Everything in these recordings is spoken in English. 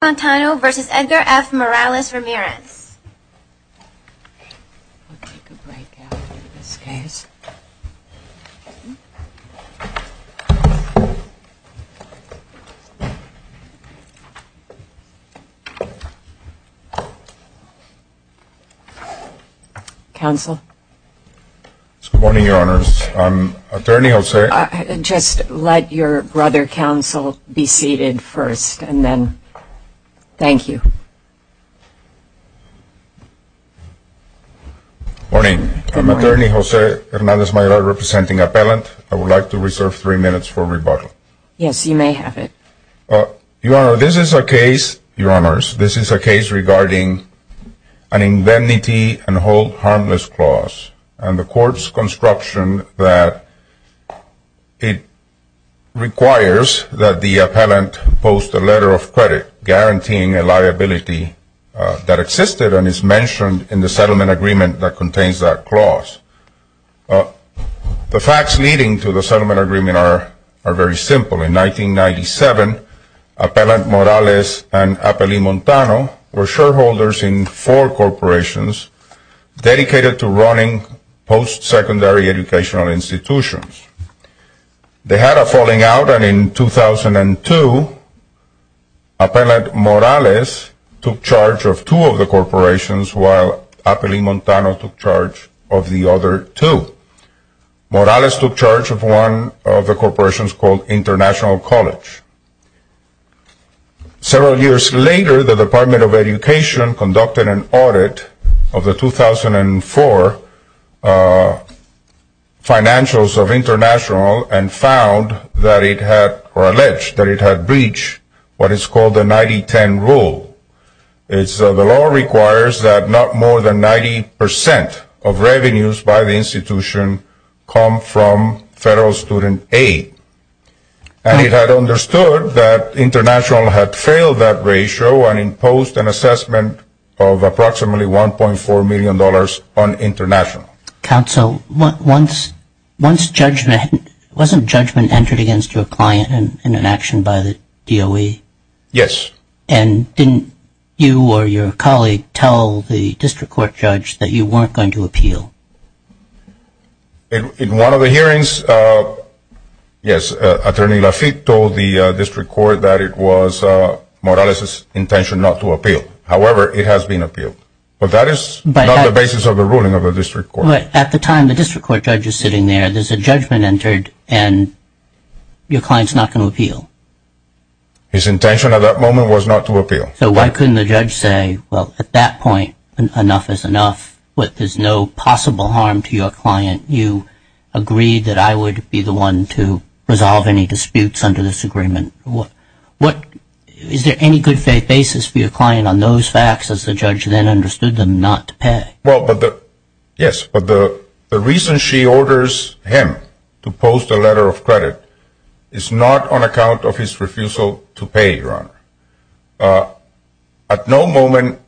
I'll take a break after this case. Counsel? Good morning, Your Honors. Is there anything else I can say? Just let your brother, Counsel, be seated first, and then thank you. Good morning. I'm Attorney Jose Hernandez-Mayor representing Appellant. I would like to reserve three minutes for rebuttal. Yes, you may have it. Your Honor, this is a case regarding an indemnity and hold harmless clause, and the court's construction that it requires that the appellant post a letter of credit, guaranteeing a liability that existed and is mentioned in the settlement agreement that contains that clause. The facts leading to the settlement agreement are very simple. In 1997, Appellant Morales and Appellee Montano were shareholders in four corporations dedicated to running post-secondary educational institutions. They had a falling out, and in 2002, Appellant Morales took charge of two of the corporations while Appellee Montano took charge of the other two. Morales took charge of one of the corporations called International College. Several years later, the Department of Education conducted an audit of the 2004 financials of International and found or alleged that it had breached what is called the 90-10 rule. The law requires that not more than 90 percent of revenues by the institution come from federal student aid, and it had understood that International had failed that ratio and imposed an assessment of approximately $1.4 million on International. Counsel, wasn't judgment entered against your client in an action by the DOE? Yes. And didn't you or your colleague tell the district court judge that you weren't going to appeal? In one of the hearings, yes, Attorney Lafitte told the district court that it was Morales' intention not to appeal. However, it has been appealed, but that is not the basis of the ruling of the district court. But at the time the district court judge is sitting there, there's a judgment entered, and your client's not going to appeal. His intention at that moment was not to appeal. So why couldn't the judge say, well, at that point, enough is enough, there's no possible harm to your client. You agreed that I would be the one to resolve any disputes under this agreement. Is there any good faith basis for your client on those facts as the judge then understood them not to pay? Well, yes, but the reason she orders him to post a letter of credit is not on account of his refusal to pay, Your Honor. At no moment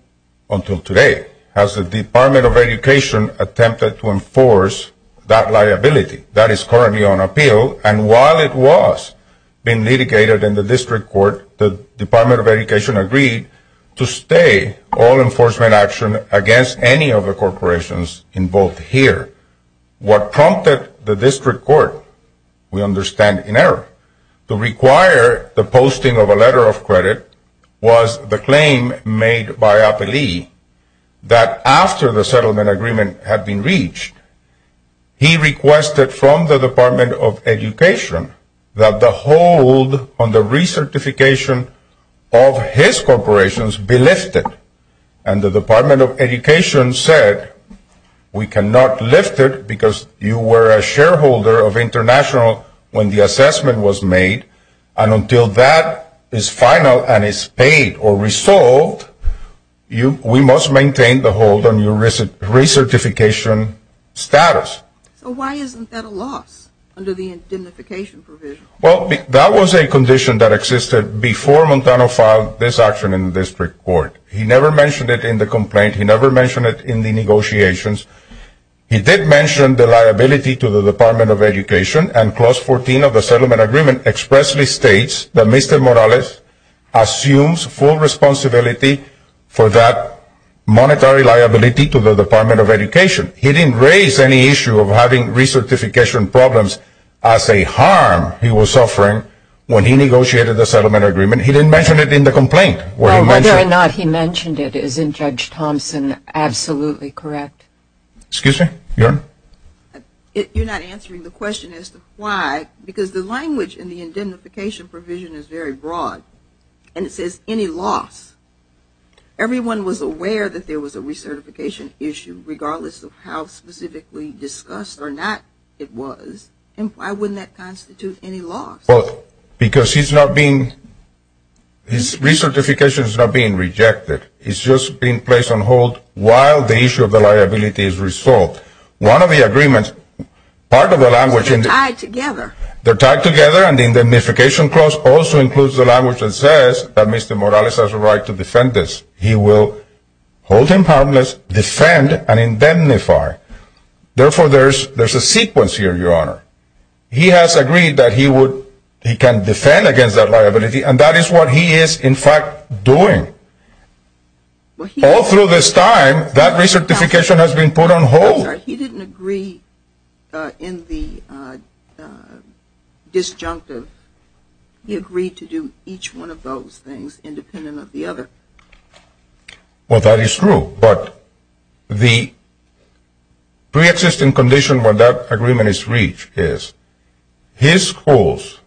until today has the Department of Education attempted to enforce that liability. That is currently on appeal, and while it was being litigated in the district court, the Department of Education agreed to stay all enforcement action against any of the corporations involved here. What prompted the district court, we understand in error, to require the posting of a letter of credit, was the claim made by Apelli that after the settlement agreement had been reached, he requested from the Department of Education that the hold on the recertification of his corporations be lifted. And the Department of Education said, we cannot lift it because you were a shareholder of International when the assessment was made, and until that is final and is paid or resolved, we must maintain the hold on your recertification status. So why isn't that a loss under the indemnification provision? Well, that was a condition that existed before Montano filed this action in the district court. He never mentioned it in the complaint. He never mentioned it in the negotiations. He did mention the liability to the Department of Education, and clause 14 of the settlement agreement expressly states that Mr. Morales assumes full responsibility for that monetary liability to the Department of Education. He didn't raise any issue of having recertification problems as a harm he was suffering when he negotiated the settlement agreement. He didn't mention it in the complaint. Well, whether or not he mentioned it is in Judge Thompson absolutely correct. Excuse me? You're not answering the question as to why, because the language in the indemnification provision is very broad, and it says any loss. Everyone was aware that there was a recertification issue, regardless of how specifically discussed or not it was, and why wouldn't that constitute any loss? Well, because his recertification is not being rejected. It's just being placed on hold while the issue of the liability is resolved. One of the agreements, part of the language in the indemnification clause also includes the language that says that Mr. Morales has a right to defend this. He will hold him harmless, defend, and indemnify. Therefore, there's a sequence here, Your Honor. He has agreed that he can defend against that liability, and that is what he is, in fact, doing. All through this time, that recertification has been put on hold. He didn't agree in the disjunctive. He agreed to do each one of those things independent of the other. Well, that is true, but the preexisting condition when that agreement is reached is his schools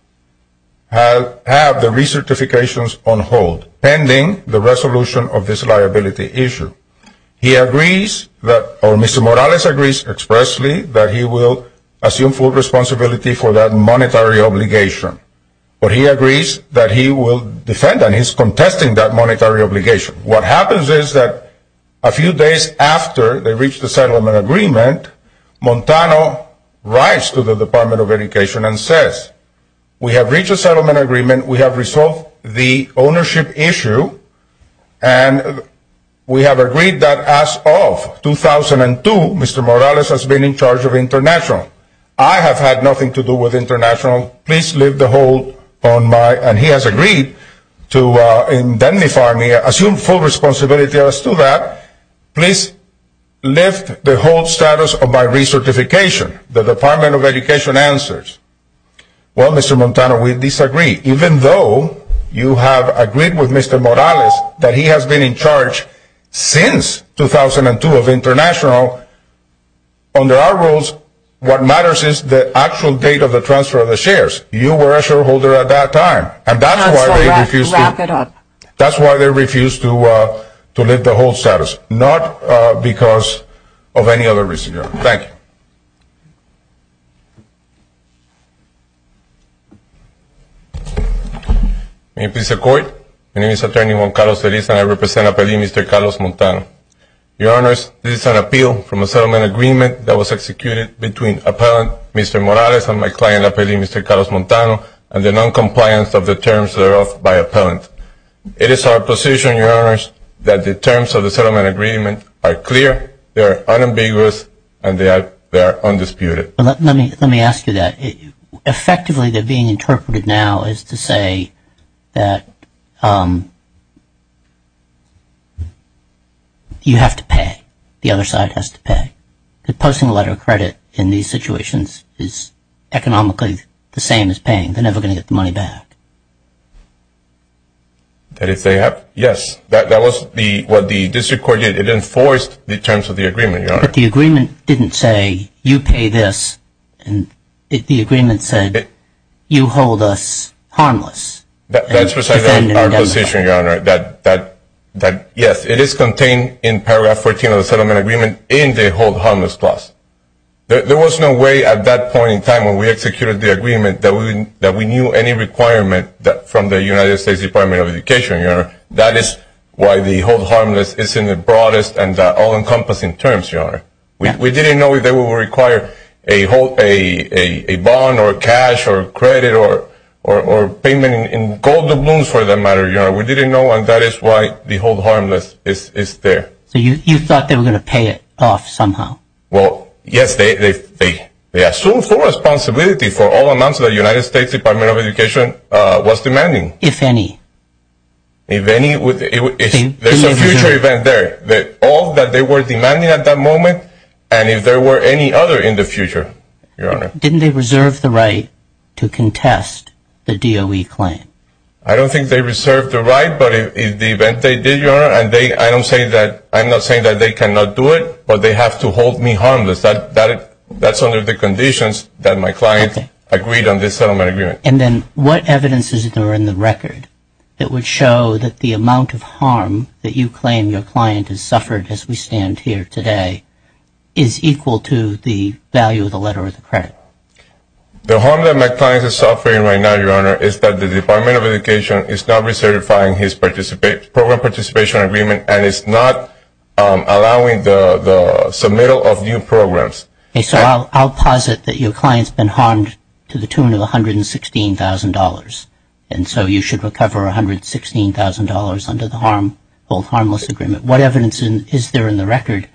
have the recertifications on hold pending the resolution of this liability issue. He agrees that, or Mr. Morales agrees expressly that he will assume full responsibility for that monetary obligation, but he agrees that he will defend and he's contesting that monetary obligation. What happens is that a few days after they reach the settlement agreement, Montano writes to the Department of Education and says, we have reached a settlement agreement, we have resolved the ownership issue, and we have agreed that as of 2002, Mr. Morales has been in charge of international. I have had nothing to do with international. Please leave the hold on my, and he has agreed to indemnify me, assume full responsibility as to that. Please lift the hold status of my recertification. The Department of Education answers, well, Mr. Montano, we disagree. Even though you have agreed with Mr. Morales that he has been in charge since 2002 of international, under our rules, what matters is the actual date of the transfer of the shares. You were a shareholder at that time, and that's why they refused to lift the hold status, not because of any other reason. Thank you. May it please the Court. My name is Attorney Juan Carlos Feliz, and I represent Appellee Mr. Carlos Montano. Your Honors, this is an appeal from a settlement agreement that was executed between Appellant Mr. Morales and my client, Appellee Mr. Carlos Montano, and the noncompliance of the terms of the oath by Appellant. It is our position, Your Honors, that the terms of the settlement agreement are clear, they are unambiguous, and they are undisputed. Let me ask you that. Effectively, they're being interpreted now as to say that you have to pay. The other side has to pay. Posting a letter of credit in these situations is economically the same as paying. They're never going to get the money back. Yes, that was what the district court did. It enforced the terms of the agreement, Your Honor. But the agreement didn't say, you pay this. The agreement said, you hold us harmless. That's precisely our position, Your Honor, that yes, it is contained in paragraph 14 of the settlement agreement in the hold harmless clause. There was no way at that point in time when we executed the agreement that we knew any requirement from the United States Department of Education, Your Honor. That is why the hold harmless is in the broadest and all-encompassing terms, Your Honor. We didn't know if they would require a bond or cash or credit or payment in gold or blooms for that matter, Your Honor. We didn't know, and that is why the hold harmless is there. So you thought they were going to pay it off somehow? Well, yes, they assumed full responsibility for all amounts that the United States Department of Education was demanding. If any? If any, there's a future event there. All that they were demanding at that moment and if there were any other in the future, Your Honor. Didn't they reserve the right to contest the DOE claim? I don't think they reserved the right, but in the event they did, Your Honor, and I'm not saying that they cannot do it, but they have to hold me harmless. That's under the conditions that my client agreed on this settlement agreement. And then what evidence is there in the record that would show that the amount of harm that you claim your client has suffered as we stand here today is equal to the value of the letter or the credit? The harm that my client is suffering right now, Your Honor, is that the Department of Education is not recertifying his program participation agreement and is not allowing the submittal of new programs. Okay, so I'll posit that your client's been harmed to the tune of $116,000, and so you should recover $116,000 under the harm, hold harmless agreement. What evidence is there in the record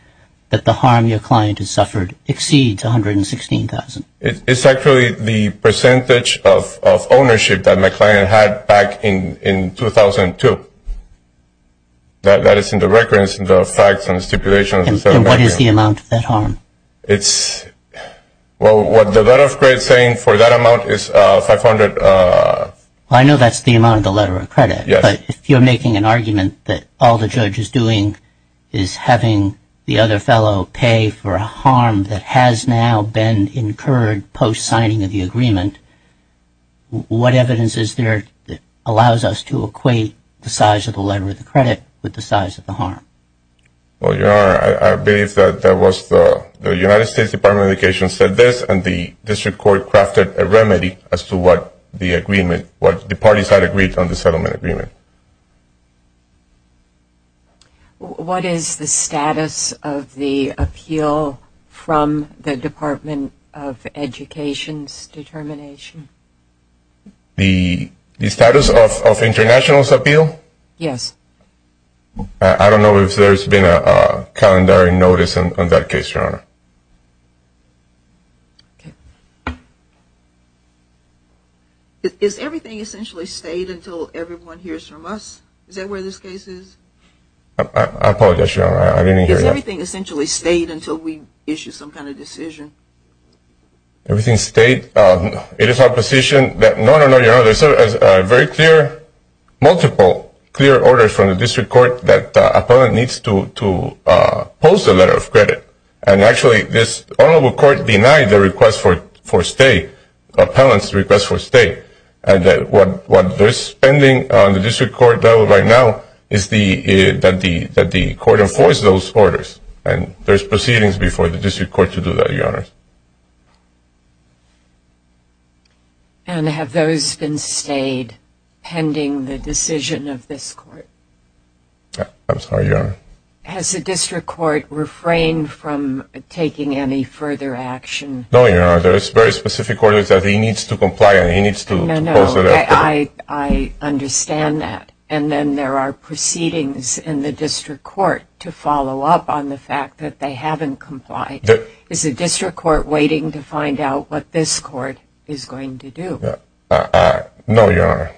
that the harm your client has suffered exceeds $116,000? It's actually the percentage of ownership that my client had back in 2002. That is in the records and the facts and stipulations. And what is the amount of that harm? Well, what the letter of credit is saying for that amount is $500,000. I know that's the amount of the letter of credit. Yes. But if you're making an argument that all the judge is doing is having the other fellow pay for a harm that has now been incurred post-signing of the agreement, what evidence is there that allows us to equate the size of the letter of the credit with the size of the harm? Well, Your Honor, I believe that the United States Department of Education said this, and the district court crafted a remedy as to what the parties had agreed on the settlement agreement. What is the status of the appeal from the Department of Education's determination? The status of International's appeal? Yes. I don't know if there's been a calendar notice on that case, Your Honor. Is everything essentially stayed until everyone hears from us? Is that where this case is? I apologize, Your Honor, I didn't hear you. Is everything essentially stayed until we issue some kind of decision? Everything stayed? It is our position that, no, no, no, Your Honor, there's a very clear, multiple clear orders from the district court that an appellant needs to post a letter of credit, and actually this honorable court denied the request for stay, appellant's request for stay, and that what they're spending on the district court right now is that the court enforce those orders, and there's proceedings before the district court to do that, Your Honor. And have those been stayed pending the decision of this court? I'm sorry, Your Honor. Has the district court refrained from taking any further action? No, Your Honor, there's very specific orders that he needs to comply and he needs to post a letter of credit. I understand that. And then there are proceedings in the district court to follow up on the fact that they haven't complied. Is the district court waiting to find out what this court is going to do? No, Your Honor.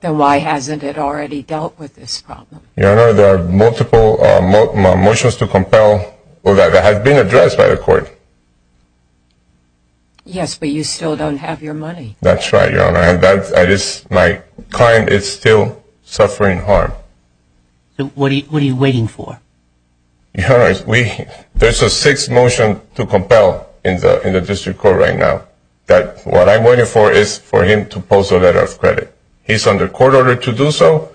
Then why hasn't it already dealt with this problem? Your Honor, there are multiple motions to compel that have been addressed by the court. Yes, but you still don't have your money. That's right, Your Honor, and my client is still suffering harm. So what are you waiting for? Your Honor, there's a sixth motion to compel in the district court right now. What I'm waiting for is for him to post a letter of credit. He's under court order to do so.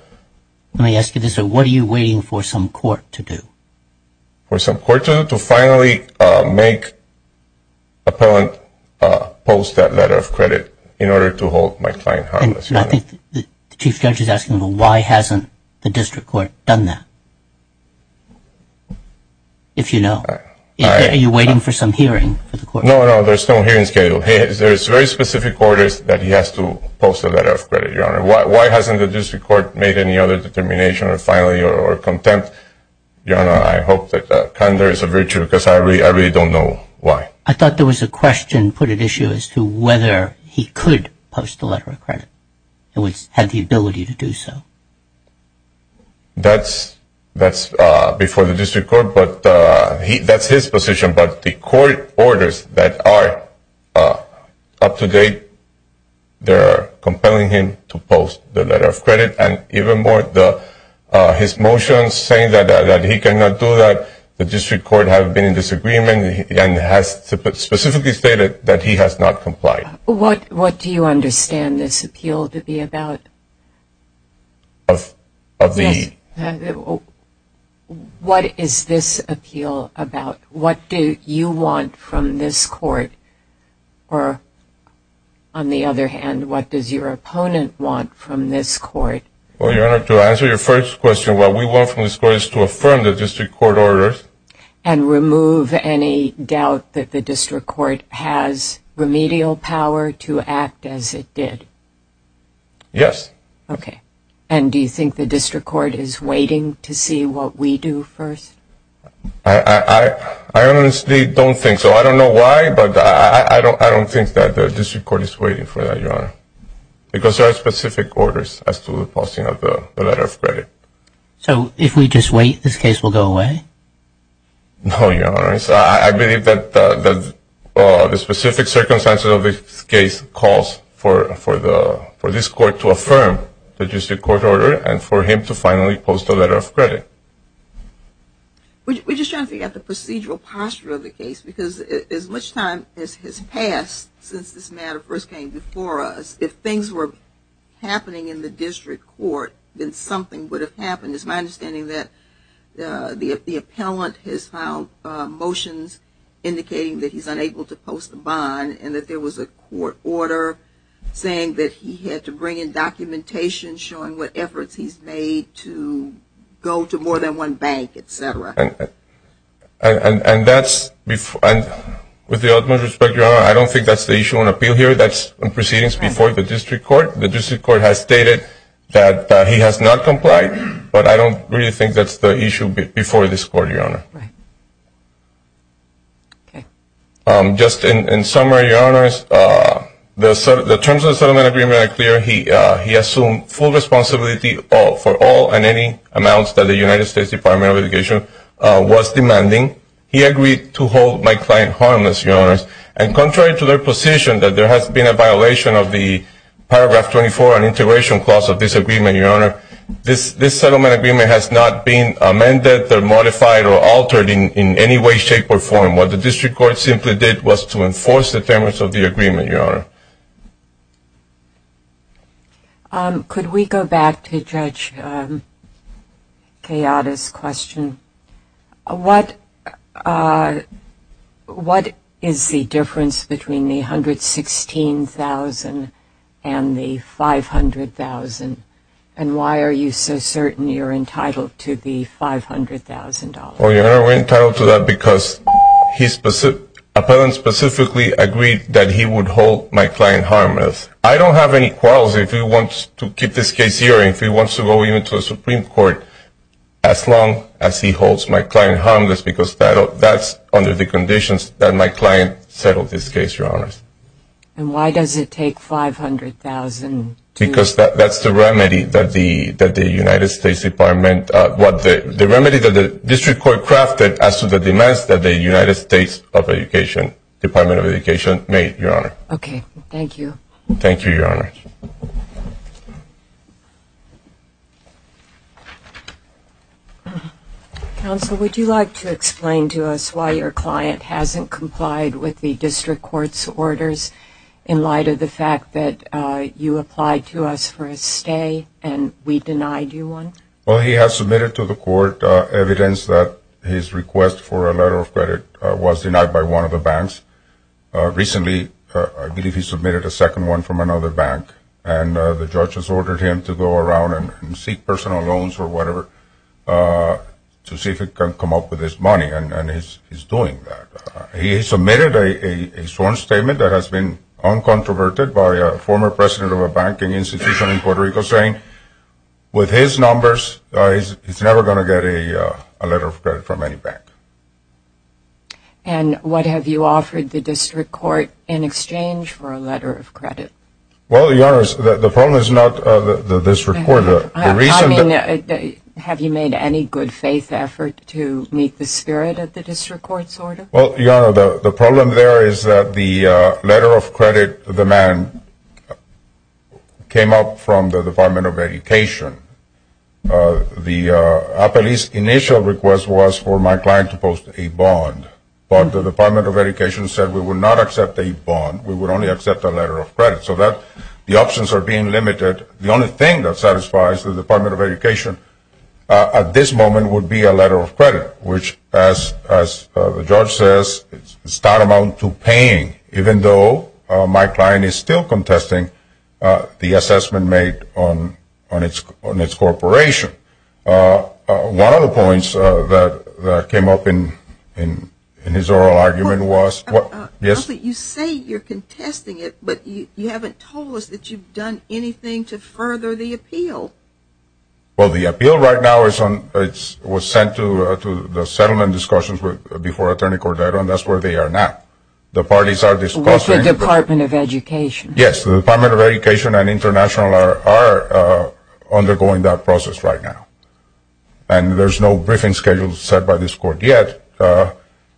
Let me ask you this, what are you waiting for some court to do? For some court to do? To finally make appellant post that letter of credit in order to hold my client harmless. And I think the chief judge is asking, well, why hasn't the district court done that? If you know. Are you waiting for some hearing for the court? No, no, there's no hearing schedule. There's very specific orders that he has to post a letter of credit, Your Honor. Why hasn't the district court made any other determination or finally or contempt? Your Honor, I hope that candor is a virtue because I really don't know why. I thought there was a question put at issue as to whether he could post a letter of credit. He would have the ability to do so. That's before the district court, but that's his position. But the court orders that are up to date, they're compelling him to post the letter of credit. And even more, his motion saying that he cannot do that, the district court has been in disagreement and has specifically stated that he has not complied. What do you understand this appeal to be about? What is this appeal about? What do you want from this court? Or, on the other hand, what does your opponent want from this court? Well, Your Honor, to answer your first question, what we want from this court is to affirm the district court orders. And remove any doubt that the district court has remedial power to act as it did. Yes. Okay. And do you think the district court is waiting to see what we do first? I honestly don't think so. I don't know why, but I don't think that the district court is waiting for that, Your Honor, because there are specific orders as to the posting of the letter of credit. So if we just wait, this case will go away? No, Your Honor. I believe that the specific circumstances of this case calls for this court to affirm the district court order and for him to finally post a letter of credit. We're just trying to figure out the procedural posture of the case, because as much time has passed since this matter first came before us, if things were happening in the district court, then something would have happened. It's my understanding that the appellant has filed motions indicating that he's unable to post a bond and that there was a court order saying that he had to bring in documentation showing what efforts he's made to go to more than one bank, et cetera. And with the utmost respect, Your Honor, I don't think that's the issue on appeal here. That's proceedings before the district court. The district court has stated that he has not complied, but I don't really think that's the issue before this court, Your Honor. Right. Okay. Just in summary, Your Honors, the terms of the settlement agreement are clear. He assumed full responsibility for all and any amounts that the United States Department of Education was demanding. He agreed to hold my client harmless, Your Honors, and contrary to their position that there has been a violation of the paragraph 24 on integration clause of this agreement, Your Honor, this settlement agreement has not been amended, modified, or altered in any way, shape, or form. What the district court simply did was to enforce the terms of the agreement, Your Honor. Could we go back to Judge Kayada's question? What is the difference between the $116,000 and the $500,000, and why are you so certain you're entitled to the $500,000? Well, Your Honor, we're entitled to that because his appellant specifically agreed that he would hold my client harmless. I don't have any qualms if he wants to keep this case here or if he wants to go into the Supreme Court as long as he holds my client harmless because that's under the conditions that my client settled this case, Your Honors. Because that's the remedy that the United States Department, the remedy that the district court crafted as to the demands that the United States Department of Education made, Your Honor. Okay, thank you. Thank you, Your Honors. Counsel, would you like to explain to us why your client hasn't complied with the district court's orders in light of the fact that you applied to us for a stay and we denied you one? Well, he has submitted to the court evidence that his request for a letter of credit was denied by one of the banks. Recently, I believe he submitted a second one from another bank, and the judge has ordered him to go around and seek personal loans or whatever to see if he can come up with his money, and he's doing that. He submitted a sworn statement that has been uncontroverted by a former president of a banking institution in Puerto Rico, saying with his numbers, he's never going to get a letter of credit from any bank. And what have you offered the district court in exchange for a letter of credit? Well, Your Honors, the problem is not the district court. I mean, have you made any good-faith effort to meet the spirit of the district court's order? Well, Your Honor, the problem there is that the letter of credit, the man, came up from the Department of Education. The appellee's initial request was for my client to post a bond, but the Department of Education said we would not accept a bond, we would only accept a letter of credit. So the options are being limited. The only thing that satisfies the Department of Education at this moment would be a letter of credit, which, as the judge says, is not amount to paying, even though my client is still contesting the assessment made on its corporation. One of the points that came up in his oral argument was, yes? Well, you say you're contesting it, but you haven't told us that you've done anything to further the appeal. Well, the appeal right now was sent to the settlement discussions before Attorney Cordero, and that's where they are now. The parties are discussing. With the Department of Education. Yes, the Department of Education and International are undergoing that process right now. And there's no briefing schedule set by this court yet.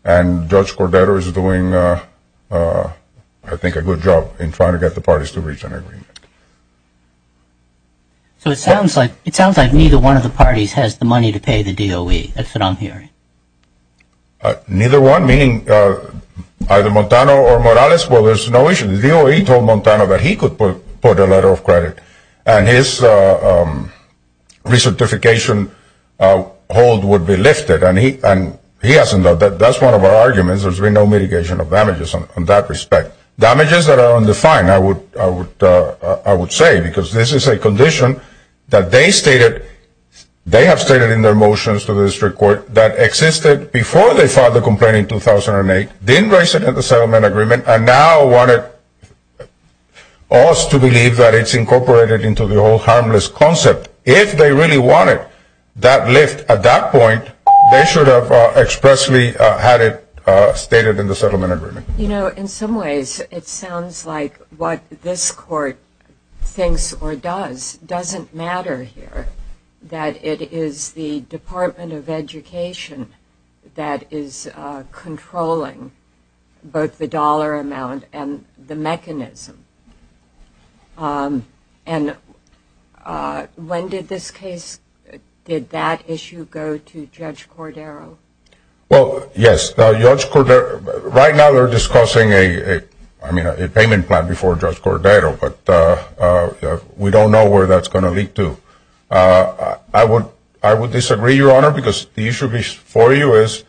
And Judge Cordero is doing, I think, a good job in trying to get the parties to reach an agreement. So it sounds like neither one of the parties has the money to pay the DOE. That's what I'm hearing. Neither one? Meaning either Montano or Morales? Well, there's no issue. The DOE told Montano that he could put a letter of credit, and his recertification hold would be lifted. And he hasn't done that. That's one of our arguments. There's been no mitigation of damages in that respect. Damages that are undefined, I would say, because this is a condition that they stated. They have stated in their motions to the district court that existed before they filed the complaint in 2008, didn't raise it in the settlement agreement, and now want us to believe that it's incorporated into the old harmless concept. If they really wanted that lift at that point, they should have expressly had it stated in the settlement agreement. You know, in some ways, it sounds like what this court thinks or does doesn't matter here, that it is the Department of Education that is controlling both the dollar amount and the mechanism. And when did this case, did that issue go to Judge Cordero? Well, yes. Right now they're discussing a payment plan before Judge Cordero, but we don't know where that's going to lead to. I would disagree, Your Honor, because the issue for you is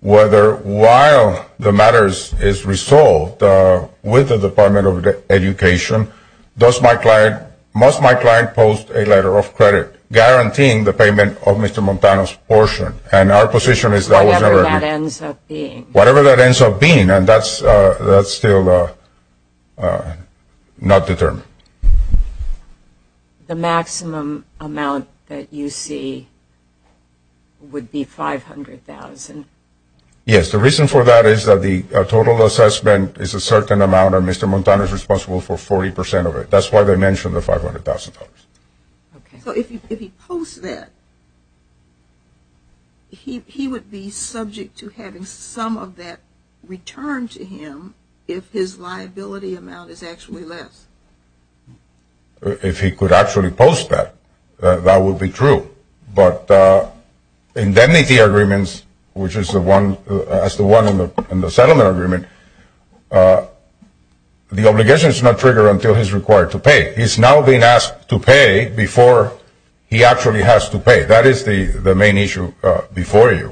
whether while the matter is resolved with the Department of Education, must my client post a letter of credit guaranteeing the payment of Mr. Montano's portion? And our position is that was never agreed. Whatever that ends up being. Whatever that ends up being, and that's still not determined. The maximum amount that you see would be $500,000? Yes. The reason for that is that the total assessment is a certain amount, and Mr. Montano is responsible for 40% of it. That's why they mentioned the $500,000. So if he posts that, he would be subject to having some of that returned to him if his liability amount is actually less? If he could actually post that, that would be true. But indemnity agreements, which is the one in the settlement agreement, the obligation is not triggered until he's required to pay. He's now being asked to pay before he actually has to pay. That is the main issue before you.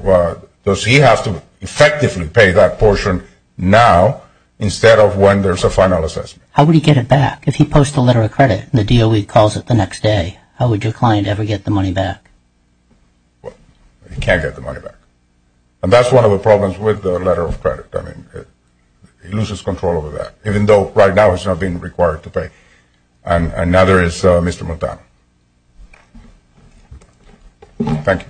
Does he have to effectively pay that portion now instead of when there's a final assessment? How would he get it back? If he posts a letter of credit and the DOE calls it the next day, how would your client ever get the money back? He can't get the money back. And that's one of the problems with the letter of credit. He loses control over that, even though right now he's not being required to pay. And another is Mr. Montano. Thank you.